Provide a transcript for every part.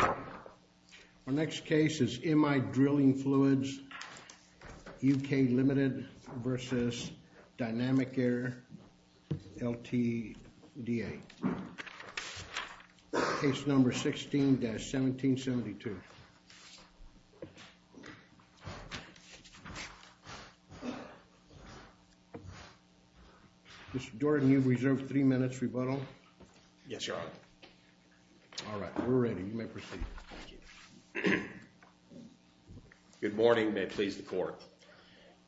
Our next case is M-I Drilling Fluids UK Ltd. v. Dynamic Air Ltda. M-I Drilling Fluids UK Ltd. v. Dynamic Air Ltda. Good morning. May it please the Court.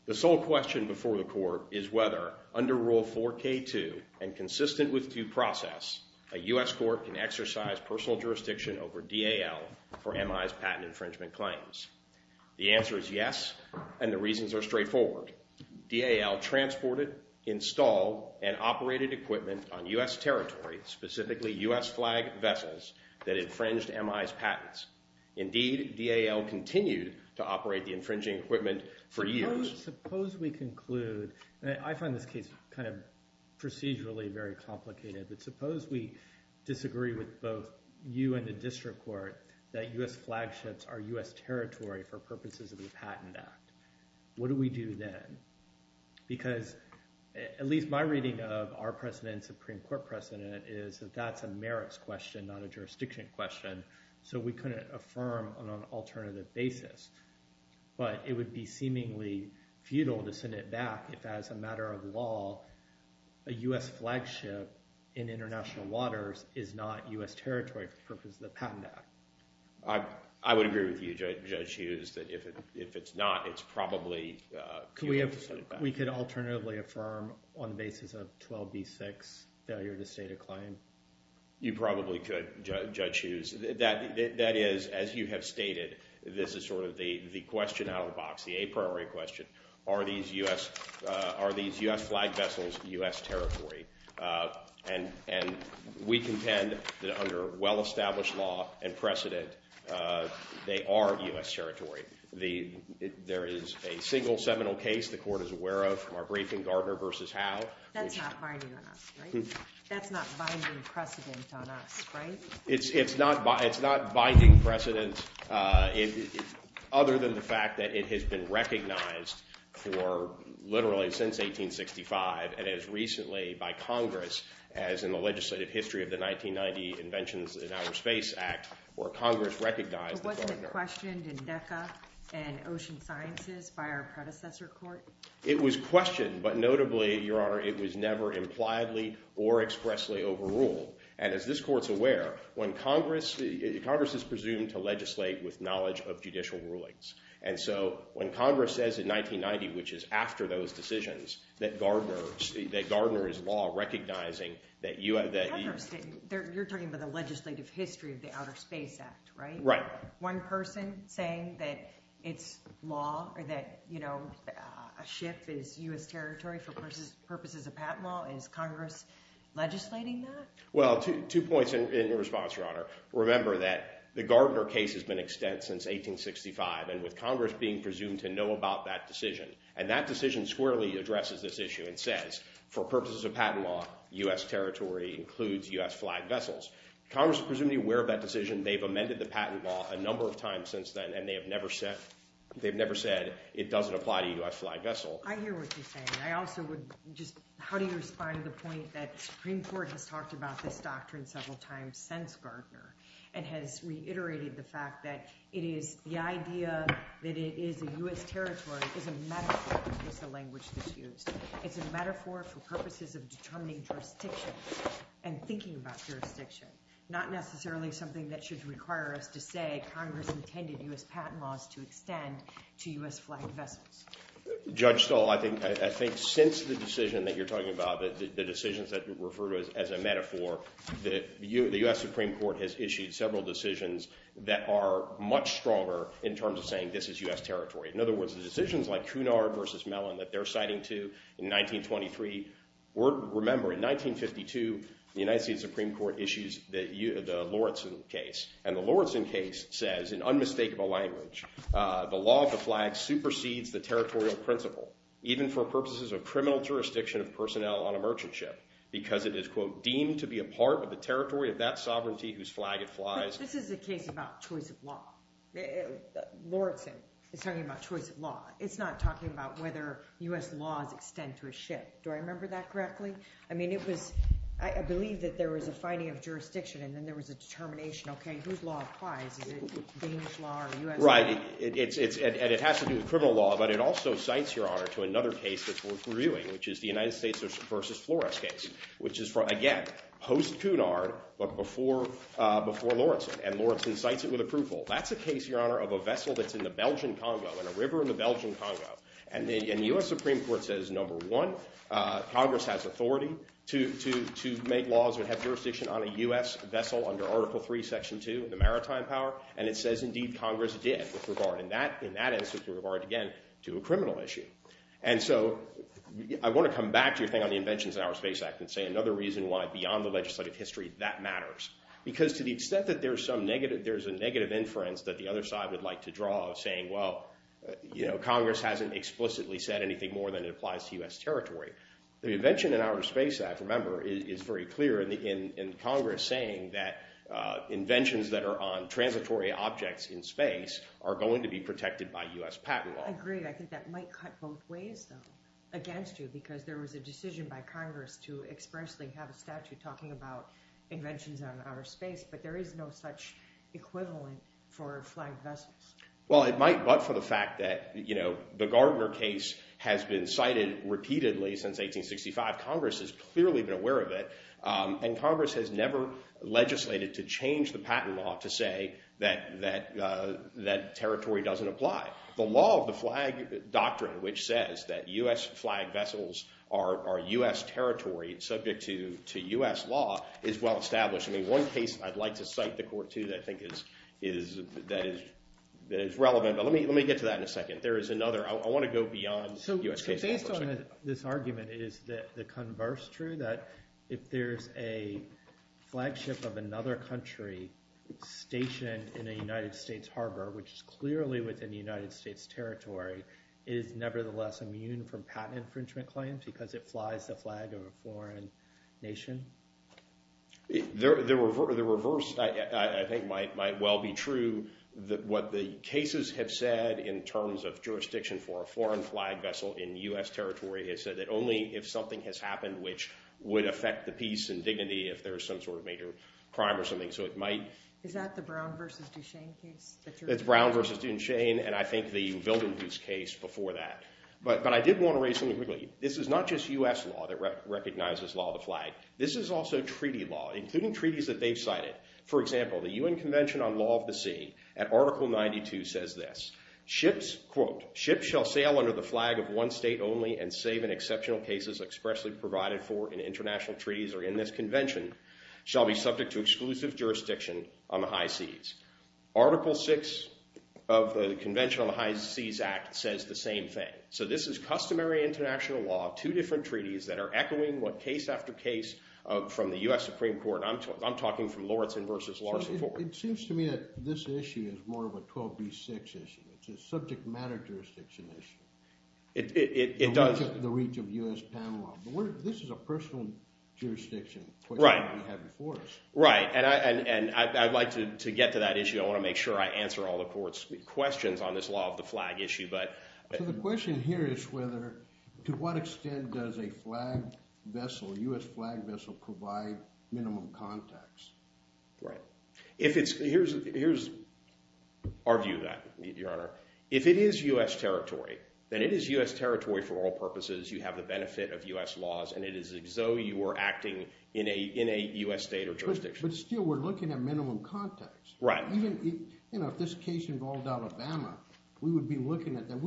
The sole question before the Court is whether, under Rule 4K2 and consistent with due process, a U.S. Court can exercise personal jurisdiction over DAL for M-I's patent infringement claims. The answer is yes, and the reasons are straightforward. DAL transported, installed, and operated equipment on U.S. territory, specifically U.S. flag vessels, that infringed M-I's patents. Indeed, DAL continued to operate the infringing equipment for years. Suppose we conclude, and I find this case kind of procedurally very complicated, but suppose we disagree with both you and the District Court that U.S. flagships are U.S. territory for purposes of the Patent Act. What do we do then? Because at least my reading of our President and Supreme Court President is that that's a merits question, not a jurisdiction question, so we couldn't affirm on an alternative basis. But it would be seemingly futile to send it back if, as a matter of law, a U.S. flagship in international waters is not U.S. territory for the purposes of the Patent Act. I would agree with you, Judge Hughes, that if it's not, it's probably futile to send it back. We could alternatively affirm on the basis of 12b-6, failure to state a claim. You probably could, Judge Hughes. That is, as you have stated, this is sort of the question out of the box, the a priori question, are these U.S. flag vessels U.S. territory? And we contend that under well-established law and precedent, they are U.S. territory. There is a single seminal case the Court is aware of from our briefing, Gardner v. Howe. That's not binding on us, right? That's not binding precedent on us, right? It's not binding precedent other than the fact that it has been recognized for literally since 1865 and as recently by Congress as in the legislative history of the 1990 Inventions in Outer Space Act where Congress recognized the Gardner. Was it questioned in DECA and Ocean Sciences by our predecessor court? It was questioned, but notably, Your Honor, it was never impliedly or expressly overruled. And as this Court's aware, Congress is presumed to legislate with knowledge of judicial rulings. And so when Congress says in 1990, which is after those decisions, that Gardner is law recognizing that you have that. You're talking about the legislative history of the Outer Space Act, right? One person saying that it's law or that a ship is U.S. territory for purposes of patent law, is Congress legislating that? Well, two points in response, Your Honor. Remember that the Gardner case has been extant since 1865 and with Congress being presumed to know about that decision. And that decision squarely addresses this issue and says, for purposes of patent law, U.S. territory includes U.S. flag vessels. Congress is presumably aware of that decision. They've amended the patent law a number of times since then, and they have never said it doesn't apply to U.S. flag vessel. I hear what you're saying. I also would just, how do you respond to the point that the Supreme Court has talked about this doctrine several times since Gardner and has reiterated the fact that it is the idea that it is a U.S. territory is a metaphor, is the language that's used. It's a metaphor for purposes of determining jurisdiction and thinking about jurisdiction, not necessarily something that should require us to say Congress intended U.S. patent laws to extend to U.S. flag vessels. Judge Stahl, I think since the decision that you're talking about, the decisions that you refer to as a metaphor, the U.S. Supreme Court has issued several decisions that are much stronger in terms of saying this is U.S. territory. In other words, the decisions like Cunard versus Mellon that they're citing to in 1923, remember in 1952, the United States Supreme Court issues the Lawrenson case. And the Lawrenson case says in unmistakable language, the law of the flag supersedes the territorial principle, even for purposes of criminal jurisdiction of personnel on a merchant ship, because it is, quote, deemed to be a part of the territory of that sovereignty whose flag it flies. This is a case about choice of law. Lawrenson is talking about choice of law. It's not talking about whether U.S. laws extend to a ship. Do I remember that correctly? I mean, it was, I believe that there was a finding of jurisdiction, and then there was a determination, OK, whose law it flies. Is it Danish law or U.S. law? Right, and it has to do with criminal law. But it also cites, Your Honor, to another case that's worth reviewing, which is the United States versus Flores case, which is, again, post-Cunard, but before Lawrenson. And Lawrenson cites it with approval. That's a case, Your Honor, of a vessel that's in the Belgian Congo, in a river in the Belgian Congo. And the U.S. Supreme Court says, number one, Congress has authority to make laws that have jurisdiction on a U.S. vessel under Article III, Section 2 of the Maritime Power. And it says, indeed, Congress did with regard, in that instance, with regard, again, to a criminal issue. And so I want to come back to your thing on the Inventions in Our Space Act and say another reason why, beyond the legislative history, that matters. Because to the extent that there's some negative, there's a negative inference that the other side would like to draw of saying, well, you know, Congress hasn't explicitly said anything more than it applies to U.S. territory. The Invention in Our Space Act, remember, is very clear in Congress saying that inventions that are on transitory objects in space are going to be protected by U.S. patent law. I agree. I think that might cut both ways, though, against you. Because there was a decision by Congress to expressly have a statute talking about space, but there is no such equivalent for flagged vessels. Well, it might, but for the fact that, you know, the Gardner case has been cited repeatedly since 1865. Congress has clearly been aware of it. And Congress has never legislated to change the patent law to say that territory doesn't apply. The law of the flag doctrine, which says that U.S. flagged vessels are U.S. territory and subject to U.S. law, is well established. One case I'd like to cite the court to that I think is relevant, but let me get to that in a second. There is another. I want to go beyond U.S. case law. So based on this argument, is the converse true, that if there's a flagship of another country stationed in a United States harbor, which is clearly within the United States territory, it is nevertheless immune from patent infringement claims because it flies the flag of a foreign nation? The reverse, I think, might well be true, that what the cases have said in terms of jurisdiction for a foreign flagged vessel in U.S. territory has said that only if something has happened which would affect the peace and dignity if there's some sort of major crime or something. So it might. Is that the Brown versus Duchesne case? That's Brown versus Duchesne, and I think the Vildenhoof case before that. But I did want to raise something quickly. This is not just U.S. law that recognizes law of the flag. This is also treaty law, including treaties that they've cited. For example, the U.N. Convention on Law of the Sea at Article 92 says this. Ships, quote, ships shall sail under the flag of one state only and save in exceptional cases expressly provided for in international treaties or in this convention shall be subject to exclusive jurisdiction on the high seas. Article 6 of the Convention on the High Seas Act says the same thing. So this is customary international law, two different treaties that are echoing what case after case from the U.S. Supreme Court. And I'm talking from Lauritzen versus Larson. So it seems to me that this issue is more of a 12b6 issue. It's a subject matter jurisdiction issue. It does. The reach of U.S. Panama. But this is a personal jurisdiction question that we have before us. Right. And I'd like to get to that issue. I want to make sure I answer all the court's questions on this law of the flag issue. The question here is whether, to what extent does a flag vessel, U.S. flag vessel provide minimum context? Right. Here's our view of that, Your Honor. If it is U.S. territory, then it is U.S. territory for all purposes. You have the benefit of U.S. laws. And it is as though you were acting in a U.S. state or jurisdiction. But still, we're looking at minimum context. Right. You know, if this case involved Alabama, we would be looking at that.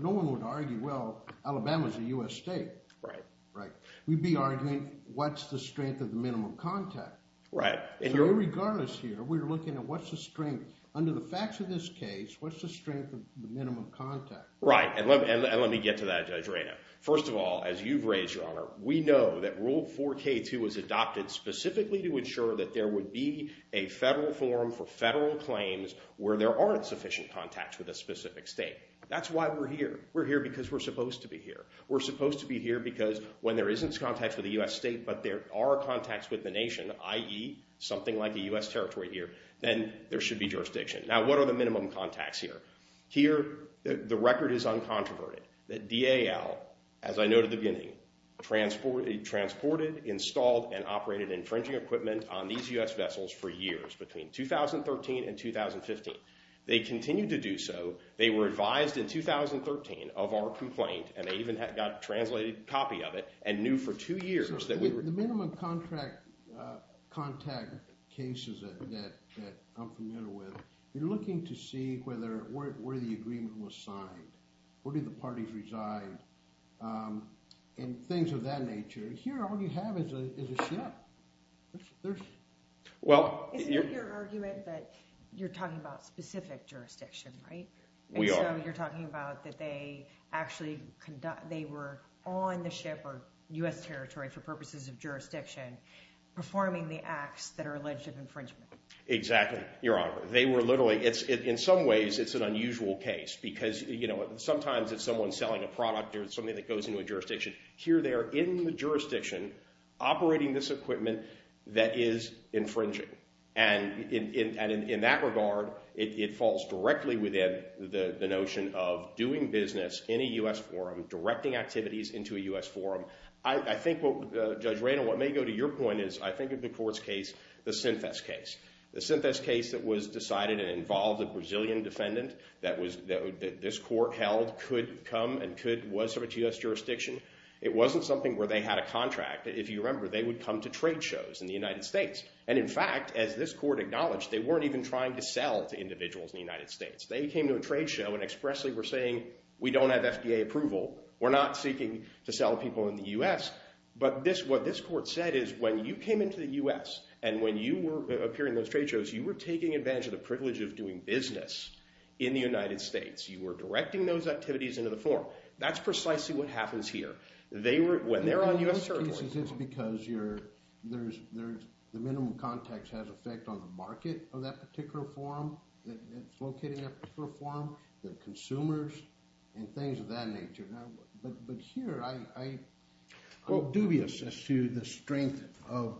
No one would argue, well, Alabama's a U.S. state. Right. Right. We'd be arguing, what's the strength of the minimum context? Right. So regardless here, we're looking at what's the strength. Under the facts of this case, what's the strength of the minimum context? Right. And let me get to that, Judge Rayner. First of all, as you've raised, Your Honor, we know that Rule 4k2 was adopted specifically to ensure that there would be a federal forum for federal claims where there aren't sufficient contacts with a specific state. That's why we're here. We're here because we're supposed to be here. We're supposed to be here because when there isn't contact with a U.S. state, but there are contacts with the nation, i.e., something like a U.S. territory here, then there should be jurisdiction. Now, what are the minimum contacts here? Here, the record is uncontroverted, that DAL, as I noted at the beginning, transported, installed, and operated infringing equipment on these U.S. vessels for years, between 2013 and 2015. They continued to do so. They were advised in 2013 of our complaint, and they even got a translated copy of it and knew for two years that we were- The minimum contact cases that I'm familiar with, you're looking to see where the agreement was signed, where did the parties reside, and things of that nature. Here, all you have is a ship. Well- Isn't it your argument that you're talking about specific jurisdiction, right? We are. You're talking about that they actually were on the ship or U.S. territory for purposes of jurisdiction performing the acts that are alleged of infringement. Exactly, Your Honor. They were literally- In some ways, it's an unusual case because sometimes it's someone selling a product or something that goes into a jurisdiction. Here, they are in the jurisdiction operating this equipment that is infringing, and in that regard, it falls directly within the notion of doing business in a U.S. forum, directing activities into a U.S. forum. I think, Judge Raynor, what may go to your point is I think of the court's case, the Synthesis case. The Synthesis case that was decided and involved a Brazilian defendant that this court held could come and was from a U.S. jurisdiction. It wasn't something where they had a contract. If you remember, they would come to trade shows in the United States, and in fact, as this court acknowledged, they weren't even trying to sell to individuals in the United States. They came to a trade show and expressly were saying, we don't have FDA approval. We're not seeking to sell people in the U.S., but what this court said is when you came into the U.S. and when you were appearing in those trade shows, you were taking advantage of the privilege of doing business in the United States. You were directing those activities into the forum. That's precisely what happens here. When they're on U.S. territory. In most cases, it's because the minimum context has effect on the market of that particular forum, that it's located in that particular forum, the consumers, and things of that nature. But here, I'm dubious as to the strength of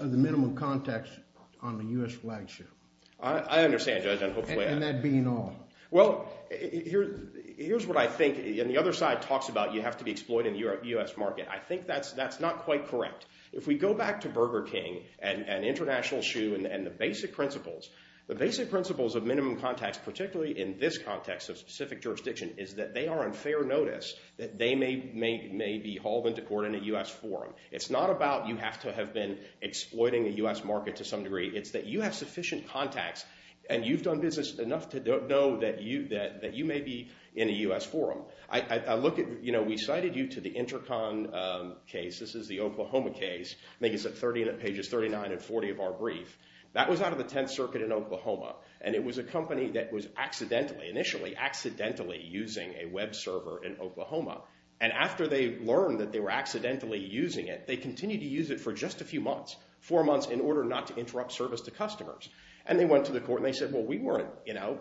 the minimum context on the U.S. flagship. I understand, Judge. And that being all. Well, here's what I think. And the other side talks about you have to be exploited in the U.S. market. I think that's not quite correct. If we go back to Burger King and International Shoe and the basic principles, the basic principles of minimum context, particularly in this context of specific jurisdiction, is that they are on fair notice that they may be hauled into court in a U.S. forum. It's not about you have to have been exploiting the U.S. market to some degree. It's that you have sufficient contacts, and you've done business enough to know that you may be in a U.S. forum. We cited you to the Intercon case. This is the Oklahoma case. I think it's pages 39 and 40 of our brief. That was out of the Tenth Circuit in Oklahoma. And it was a company that was, initially, accidentally using a web server in Oklahoma. And after they learned that they were accidentally using it, they continued to use it for just a few months, four months in order not to interrupt service to customers. And they went to the court, and they said, well, we weren't, you know,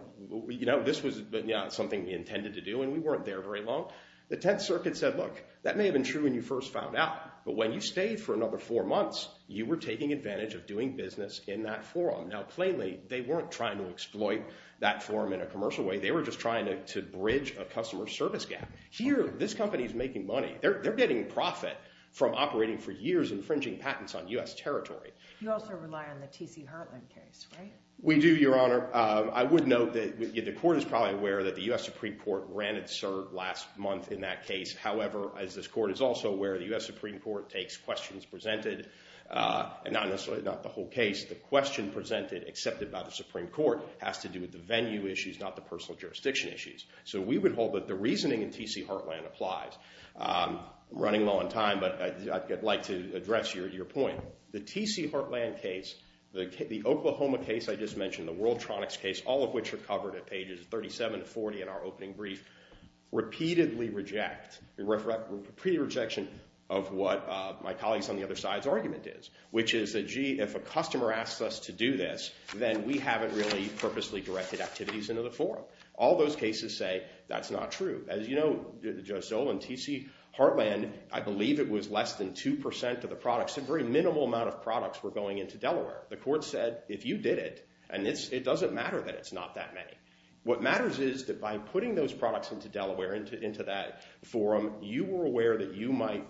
this was not something we intended to do, and we weren't there very long. The Tenth Circuit said, look, that may have been true when you first found out. But when you stayed for another four months, you were taking advantage of doing business in that forum. Now, plainly, they weren't trying to exploit that forum in a commercial way. They were just trying to bridge a customer service gap. Here, this company is making money. They're getting profit from operating for years infringing patents on US territory. You also rely on the T.C. Hartland case, right? We do, Your Honor. I would note that the court is probably aware that the US Supreme Court granted cert last month in that case. However, as this court is also aware, the US Supreme Court takes questions presented, and not necessarily the whole case. The question presented, accepted by the Supreme Court, has to do with the venue issues, not the personal jurisdiction issues. So we would hold that the reasoning in T.C. Hartland applies. I'm running low on time, but I'd like to address your point. The T.C. Hartland case, the Oklahoma case I just mentioned, the Worldtronics case, all of which are covered at pages 37 to 40 in our opening brief, repeatedly reject, repeated rejection of what my colleagues on the other side's argument is, which is that, gee, if a customer asks us to do this, then we haven't really purposely directed activities into the forum. All those cases say that's not true. As you know, Judge Zoll and T.C. Hartland, I believe it was less than 2% of the products, a very minimal amount of products, were going into Delaware. The court said, if you did it, and it doesn't matter that it's not that many, what matters is that by putting those products into Delaware, into that forum, you were aware that you might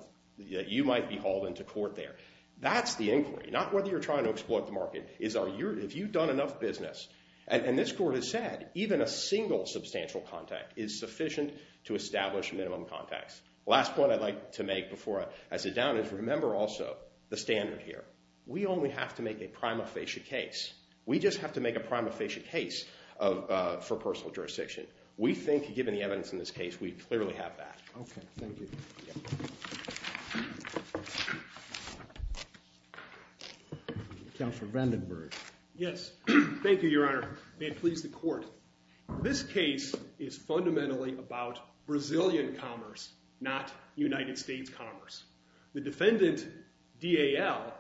be hauled into court there. That's the inquiry, not whether you're trying to exploit the market. If you've done enough business, and this court has said, even a single substantial contact is sufficient to establish minimum contacts. Last point I'd like to make before I sit down is remember also the standard here. We only have to make a prima facie case. We just have to make a prima facie case for personal jurisdiction. We think, given the evidence in this case, we clearly have that. OK, thank you. Counselor Vandenberg. Yes, thank you, Your Honor. May it please the court. This case is fundamentally about Brazilian commerce, not United States commerce. The defendant, DAL,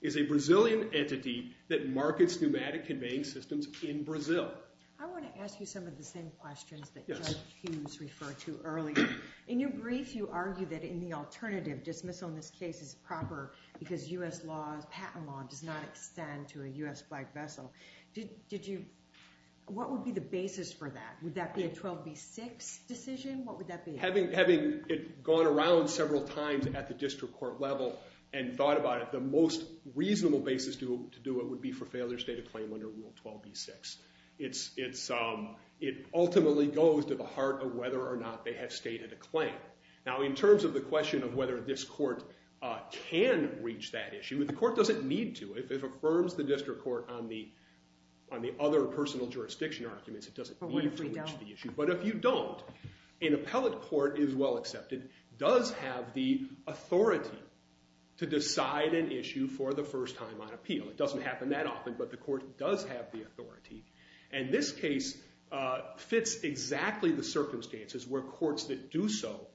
is a Brazilian entity that markets pneumatic conveying systems in Brazil. I want to ask you some of the same questions that Judge Hughes referred to earlier. In your brief, you argued that in the alternative, dismissal in this case is proper because US patent law does not extend to a US flagged vessel. Did you, what would be the basis for that? Would that be a 12b6 decision? What would that be? Having gone around several times at the district court level and thought about it, the most reasonable basis to do it would be for failure to state a claim under Rule 12b6. It ultimately goes to the heart of whether or not they have stated a claim. Now, in terms of the question of whether this court can reach that issue, the court doesn't need to. If it affirms the district court on the other personal jurisdiction arguments, it doesn't mean to reach the issue. But if you don't, an appellate court is well accepted, does have the authority to decide an issue for the first time on appeal. It doesn't happen that often, but the court does have the authority. And this case fits exactly the circumstances where courts that do so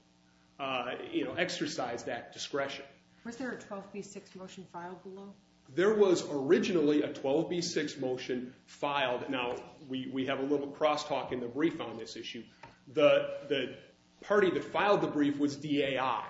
exercise that discretion. Was there a 12b6 motion filed below? There was originally a 12b6 motion filed. Now, we have a little crosstalk in the brief on this issue. The party that filed the brief was DAI,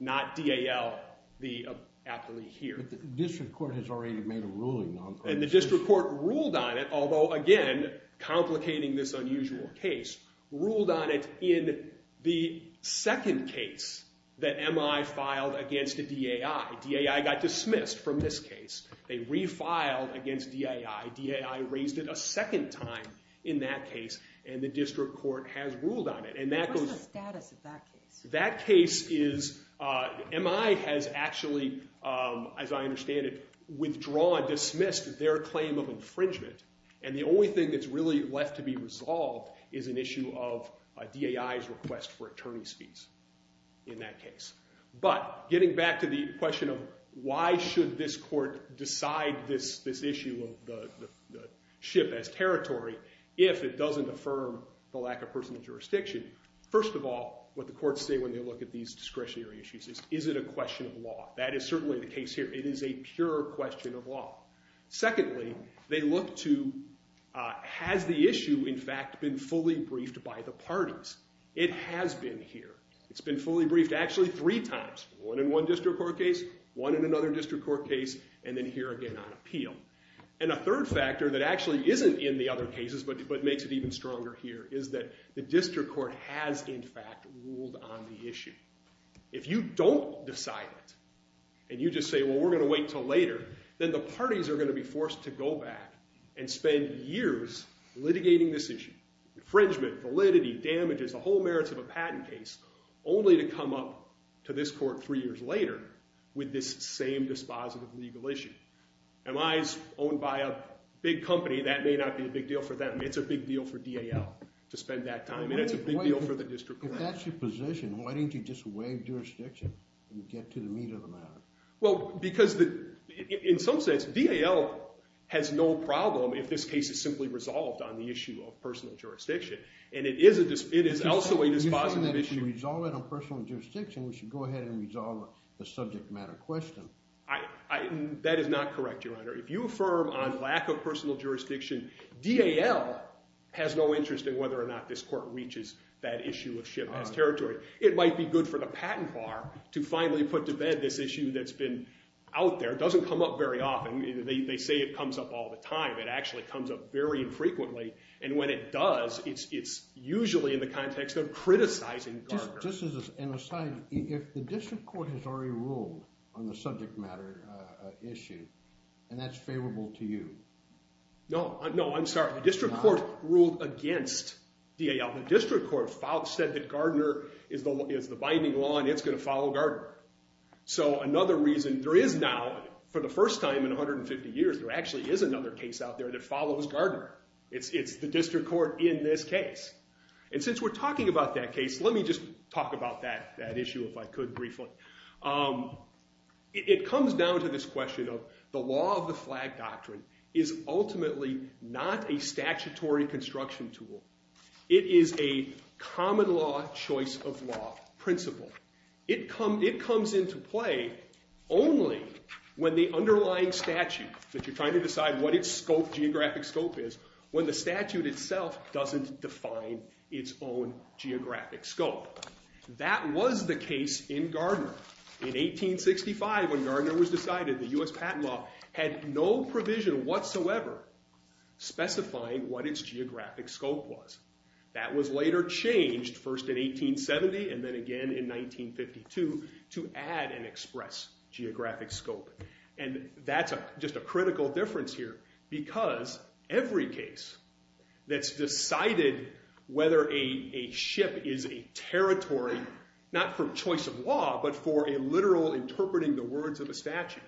not DAL, the appellee here. But the district court has already made a ruling on that. And the district court ruled on it, although, again, complicating this unusual case, ruled on it in the second case that MI filed against the DAI. DAI got dismissed from this case. They refiled against DAI. DAI raised it a second time in that case. And the district court has ruled on it. And that goes- What's the status of that case? That case is, MI has actually, as I understand it, withdrawn, dismissed their claim of infringement. And the only thing that's really left to be resolved is an issue of DAI's request for attorney's fees in that case. But getting back to the question of why should this court decide this issue of the ship as territory if it doesn't affirm the lack of personal jurisdiction, first of all, what the courts say when they look at these discretionary issues is, is it a question of law? That is certainly the case here. It is a pure question of law. Secondly, they look to, has the issue, in fact, been fully briefed by the parties? It has been here. It's been fully briefed actually three times, one in one district court case, one in another district court case, and then here again on appeal. And a third factor that actually isn't in the other cases, but makes it even stronger here, is that the district court has, in fact, ruled on the issue. If you don't decide it, and you just say, well, we're going to wait till later, then the parties are going to be forced to go back and spend years litigating this issue, infringement, validity, damages, the whole merits of a patent case, only to come up to this court three years later with this same dispositive legal issue. Am I owned by a big company? That may not be a big deal for them. It's a big deal for DAL to spend that time. And it's a big deal for the district court. If that's your position, why didn't you just waive jurisdiction and get to the meat of the matter? Well, because in some sense, DAL has no problem if this case is simply resolved on the issue of personal jurisdiction. And it is also a dispositive issue. You know that if you resolve it on personal jurisdiction, we should go ahead and resolve the subject matter question. That is not correct, Your Honor. If you affirm on lack of personal jurisdiction, DAL has no interest in whether or not this court reaches that issue of ship has territory. It might be good for the patent bar to finally put to bed this issue that's been out there. It doesn't come up very often. They say it comes up all the time. It actually comes up very infrequently. And when it does, it's usually in the context of criticizing Gardner. Just as an aside, if the district court has already ruled on the subject matter issue, and that's favorable to you. No. No, I'm sorry. The district court ruled against DAL. The district court said that Gardner is the binding law, and it's going to follow Gardner. So another reason there is now, for the first time in 150 years, there actually is another case out there that follows Gardner. It's the district court in this case. And since we're talking about that case, let me just talk about that issue if I could briefly. It comes down to this question of the law of the flag doctrine is ultimately not a statutory construction tool. It is a common law choice of law principle. It comes into play only when the underlying statute, that you're trying to decide what its geographic scope is, when the statute itself doesn't define its own geographic scope. That was the case in Gardner. In 1865, when Gardner was decided, the US patent law had no provision whatsoever specifying what its geographic scope was. That was later changed, first in 1870 and then again in 1952, to add an express geographic scope. And that's just a critical difference here, because every case that's decided whether a ship is a territory, not for choice of law, but for a literal interpreting the words of a statute,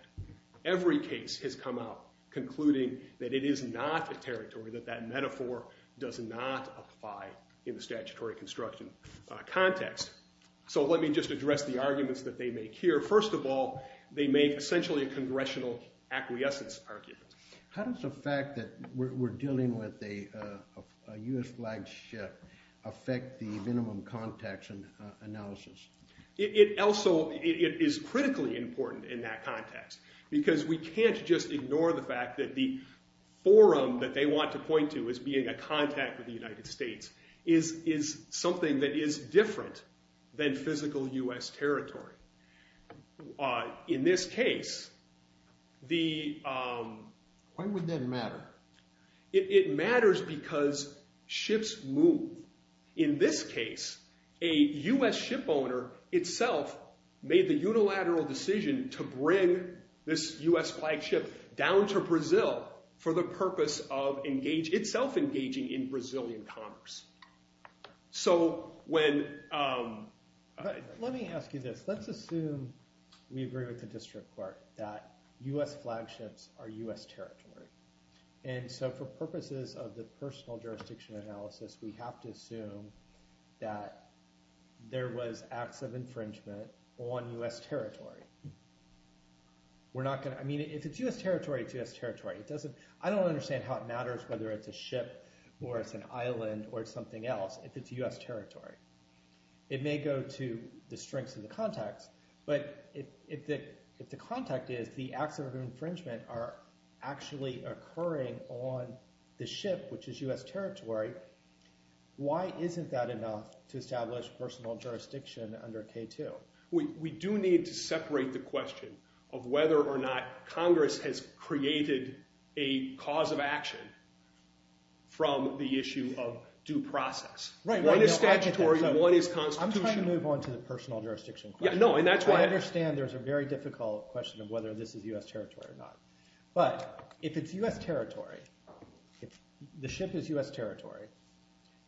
every case has come out concluding that it is not a territory, that that metaphor does not apply in the statutory construction context. So let me just address the arguments that they make here. First of all, they make essentially a congressional acquiescence argument. How does the fact that we're dealing with a US flagged ship affect the minimum context analysis? It also is critically important in that context, because we can't just ignore the fact that the forum that they want to point to as being a contact with the United States is something that is different than physical US territory. In this case, the... Why would that matter? It matters because ships move. In this case, a US ship owner itself made the unilateral decision to bring this US flagship down to Brazil for the purpose of itself engaging in Brazilian commerce. So when... Let me ask you this. Let's assume we agree with the district court that US flagships are US territory. And so for purposes of the personal jurisdiction analysis, we have to assume that there was acts of infringement on US territory. We're not going to... I mean, if it's US territory, it's US territory. It doesn't... I don't understand how it matters whether it's a ship or it's an island or something else if it's US territory. It may go to the strengths of the context, but if the context is the acts of infringement are actually occurring on the ship, which is US territory, why isn't that enough to establish personal jurisdiction under K2? We do need to separate the question of whether or not Congress has created a cause of action from the issue of due process. Right. One is statutory, one is constitutional. I'm trying to move on to the personal jurisdiction question. Yeah, no, and that's why... I understand there's a very difficult question of whether this is US territory or not. But if it's US territory, if the ship is US territory,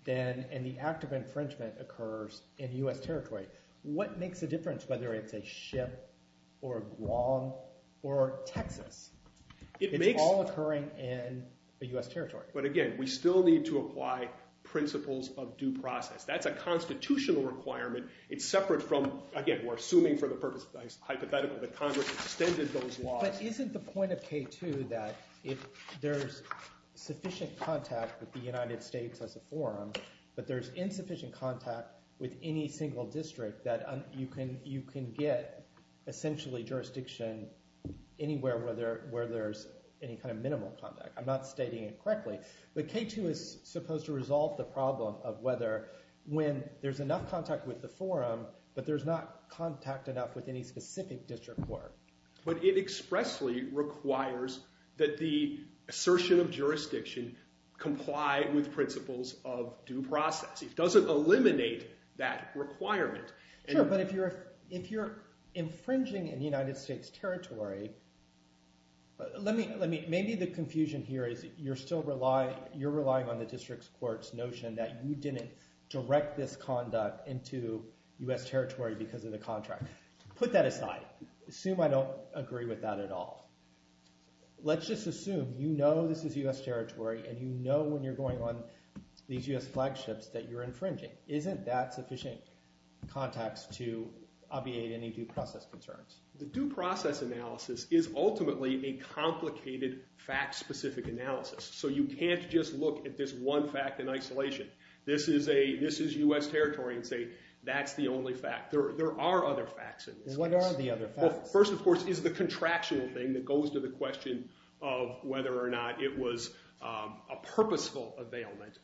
and the act of infringement occurs in US territory, what makes a difference whether it's a ship or Guam or Texas? It's all occurring in the US territory. But again, we still need to apply principles of due process. That's a constitutional requirement. It's separate from... Again, we're assuming for the purpose of hypothetical that Congress extended those laws. But isn't the point of K2 that if there's sufficient contact with the United States as a forum, but there's insufficient contact with any single district that you can get essentially jurisdiction anywhere where there's any kind of minimal contact. I'm not stating it correctly, but K2 is supposed to resolve the problem of whether when there's enough contact with the forum, but there's not contact enough with any specific district court. But it expressly requires that the assertion of jurisdiction comply with principles of due process. It doesn't eliminate that requirement. Sure, but if you're infringing in the United States territory, maybe the confusion here is you're still relying on the district court's notion that you didn't direct this conduct into US territory because of the contract. Put that aside. Assume I don't agree with that at all. Let's just assume you know this is US territory, and you know when you're going on these US flagships that you're infringing. Isn't that sufficient context to obviate any due process concerns? The due process analysis is ultimately a complicated fact-specific analysis. So you can't just look at this one fact in isolation. This is US territory and say, that's the only fact. There are other facts in this case. What are the other facts? First, of course, is the contractual thing that goes to the question of whether or not it was a purposeful availment.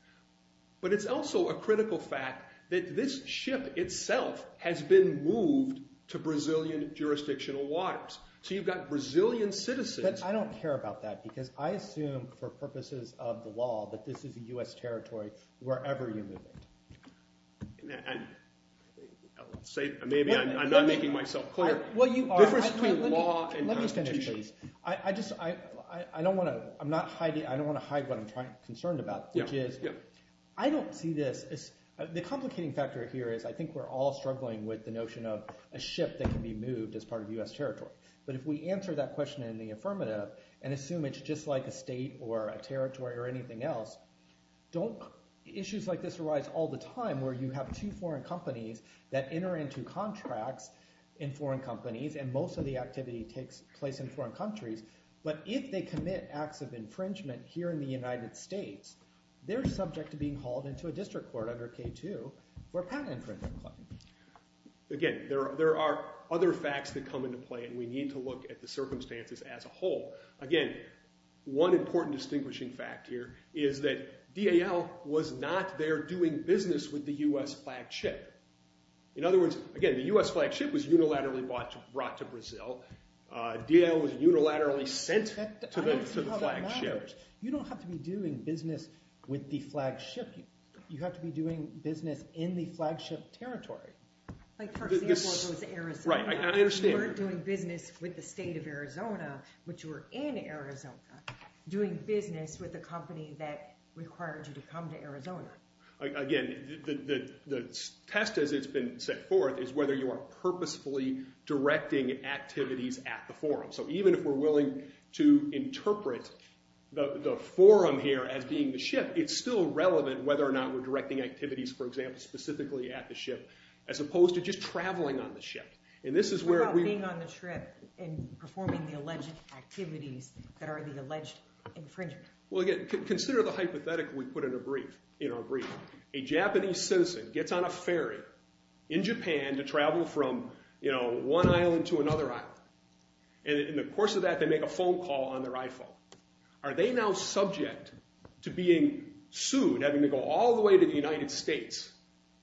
But it's also a critical fact that this ship itself has been moved to Brazilian jurisdictional waters. So you've got Brazilian citizens. But I don't care about that, because I assume for purposes of the law that this is a US territory wherever you move it. Maybe I'm not making myself clear. Well, you are. The difference between law and constitution. Let me finish, please. I just don't want to hide what I'm concerned about, which is I don't see this as the complicating factor here is I think we're all struggling with the notion of a ship that can be moved as part of US territory. But if we answer that question in the affirmative and assume it's just like a state or a territory or anything else, issues like this arise all the time where you have two foreign companies that enter into contracts in foreign companies. And most of the activity takes place in foreign countries. But if they commit acts of infringement here in the United States, they're subject to being hauled into a district court under K2 for a patent infringement claim. Again, there are other facts that come into play. And we need to look at the circumstances as a whole. Again, one important distinguishing fact here is that DAL was not there doing business with the US flagged ship. In other words, again, the US flagged ship was unilaterally brought to Brazil. DAL was unilaterally sent to the flagged ships. You don't have to be doing business with the flagged ship. You have to be doing business in the flagged ship territory. Like, for example, it was Arizona. Right, I understand. You weren't doing business with the state of Arizona, but you were in Arizona doing business with a company that required you to come to Arizona. Again, the test as it's been set forth is whether you are purposefully directing activities at the forum. So even if we're willing to interpret the forum here as being the ship, it's still relevant whether or not we're directing activities, for example, specifically at the ship, as opposed to just traveling on the ship. And this is where we're- What about being on the ship and performing the alleged activities that are the alleged infringement? Well, again, consider the hypothetical we put in our brief. A Japanese citizen gets on a ferry in Japan to travel from one island to another island. And in the course of that, they make a phone call on their iPhone. Are they now subject to being sued, having to go all the way to the United States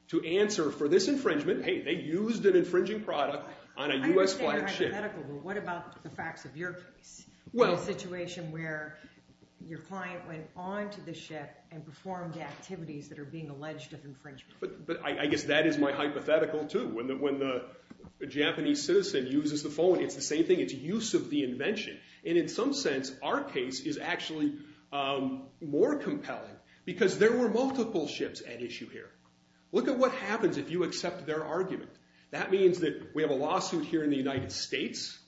to answer for this infringement? Hey, they used an infringing product on a US flagged ship. I understand your hypothetical, but what about the facts of your case? Well- The situation where your client went onto the ship and performed activities that are being alleged of infringement. But I guess that is my hypothetical, too. When the Japanese citizen uses the phone, it's the same thing. It's use of the invention. And in some sense, our case is actually more compelling, because there were multiple ships at issue here. Look at what happens if you accept their argument. That means that we have a lawsuit here in the United States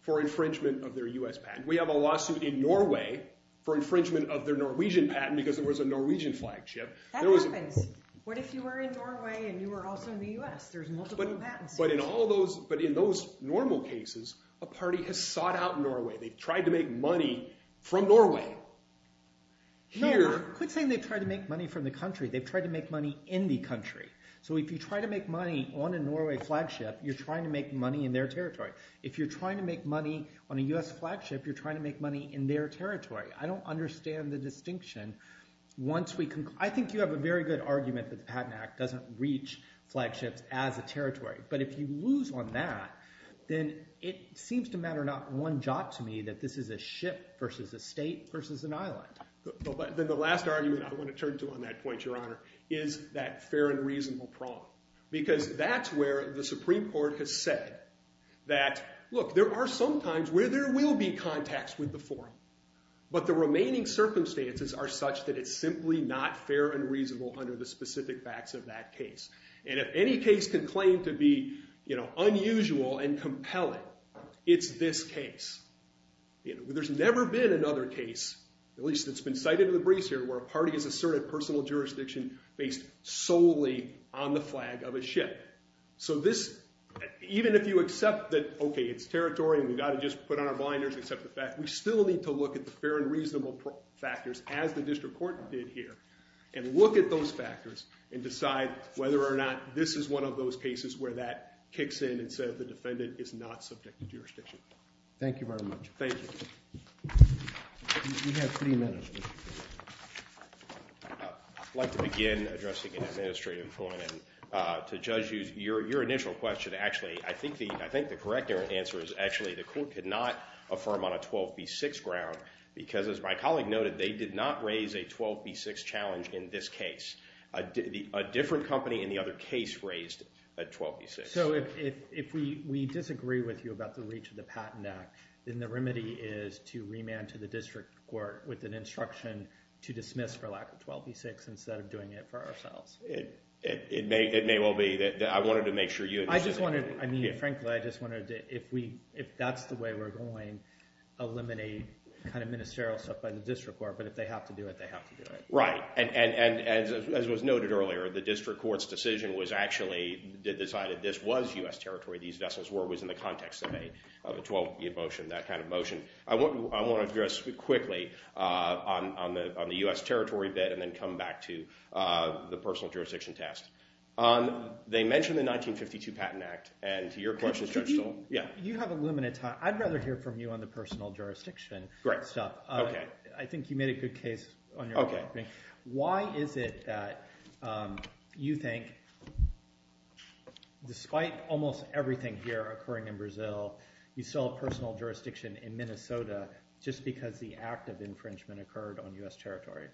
for infringement of their US patent. We have a lawsuit in Norway for infringement of their Norwegian patent, because there was a Norwegian flagged ship. That happens. What if you were in Norway and you were also in the US? There's multiple patents. But in all those, but in those normal cases, a party has sought out Norway. They've tried to make money from Norway. No, quit saying they've tried to make money from the country. They've tried to make money in the country. So if you try to make money on a Norway flagged ship, you're trying to make money in their territory. If you're trying to make money on a US flagged ship, you're trying to make money in their territory. I don't understand the distinction. I think you have a very good argument that the Patent Act doesn't reach flagged ships as a territory. But if you lose on that, then it seems to matter not one jot to me that this is a ship versus a state versus an island. But then the last argument I want to turn to on that point, Your Honor, is that fair and reasonable problem. Because that's where the Supreme Court has said that, look, there are some times where there will be contacts with the forum. But the remaining circumstances are such that it's simply not fair and reasonable under the specific facts of that case. And if any case can claim to be unusual and compelling, it's this case. There's never been another case, at least that's been cited in the briefs here, where a party has asserted personal jurisdiction based solely on the flag of a ship. So even if you accept that, OK, it's territory and we've got to just put on our blinders, accept the fact, we still need to look at the fair and reasonable factors, as the district court did here, and look at those factors and decide whether or not this is one of those cases where that kicks in and says the defendant is not subject to jurisdiction. Thank you very much. Thank you. You have three minutes. I'd like to begin addressing an administrative point and to judge your initial question. Actually, I think the correct answer is actually the court could not affirm on a 12B6 ground, because as my colleague noted, they did not raise a 12B6 challenge in this case. A different company in the other case raised a 12B6. So if we disagree with you about the reach of the Patent Act, then the remedy is to remand to the district court with an instruction to dismiss for lack of 12B6 instead of doing it for ourselves. It may well be that I wanted to make sure you understood. I mean, frankly, I just wondered if that's the way we're going, eliminate kind of ministerial stuff by the district court. But if they have to do it, they have to do it. Right. And as was noted earlier, the district court's decision was actually decided this was US territory, these vessels were, was in the context of a 12B motion, that kind of motion. I want to address quickly on the US territory bit and then come back to the personal jurisdiction test. They mentioned the 1952 Patent Act. And your question is, Judge Stoll? Yeah. You have a limited time. I'd rather hear from you on the personal jurisdiction stuff. I think you made a good case on your own. Why is it that you think, despite almost everything here occurring in Brazil, you still have personal jurisdiction in Minnesota just because the act of infringement occurred on US territory?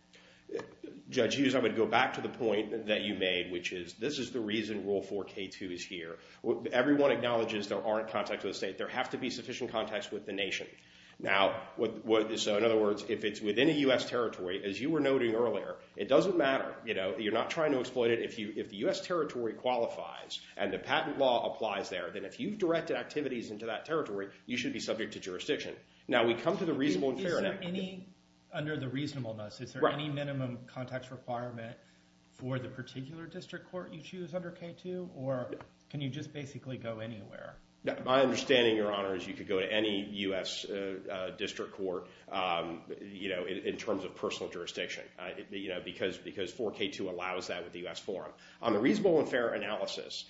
Judge Hughes, I would go back to the point that you made, which is this is the reason Rule 4K2 is here. Everyone acknowledges there aren't contacts with the state. There have to be sufficient contacts with the nation. Now, so in other words, if it's within a US territory, as you were noting earlier, it doesn't matter. You're not trying to exploit it. If the US territory qualifies and the patent law applies there, then if you've directed activities into that territory, you should be subject to jurisdiction. Now, we come to the reasonable and fair. Is there any, under the reasonableness, is there any minimum contacts requirement for the particular district court you choose under K2? Or can you just basically go anywhere? My understanding, Your Honor, is you could go to any US district court in terms of personal jurisdiction, because 4K2 allows that with the US forum. On the reasonable and fair analysis,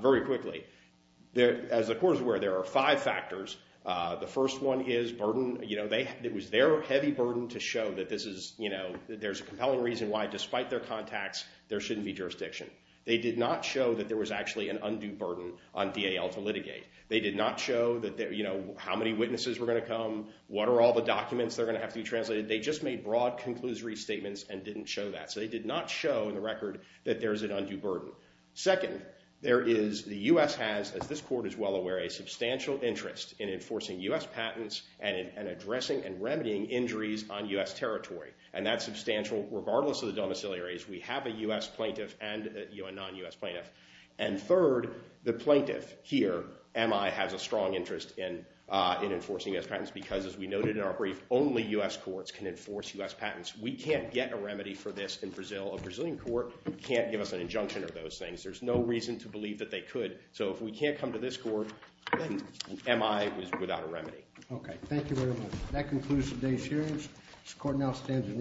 very quickly, as the court is aware, there are five factors. The first one is burden. It was their heavy burden to show that there's a compelling reason why, despite their contacts, there shouldn't be jurisdiction. They did not show that there was actually an undue burden on DAL to litigate. They did not show how many witnesses were going to come, what are all the documents that are going to have to be translated. They just made broad conclusory statements and didn't show that. So they did not show in the record that there is an undue burden. Second, there is, the US has, as this court is well aware, a substantial interest in enforcing US patents and in addressing and remedying injuries on US territory. And that's substantial, regardless of the domiciliaries. We have a US plaintiff and a non-US plaintiff. And third, the plaintiff here, MI, has a strong interest in enforcing US patents, because as we noted in our brief, only US courts can enforce US patents. We can't get a remedy for this in Brazil. A Brazilian court can't give us an injunction of those things. There's no reason to believe that they could. So if we can't come to this court, MI is without a remedy. OK, thank you very much. That concludes today's hearings. This court now stands in recess.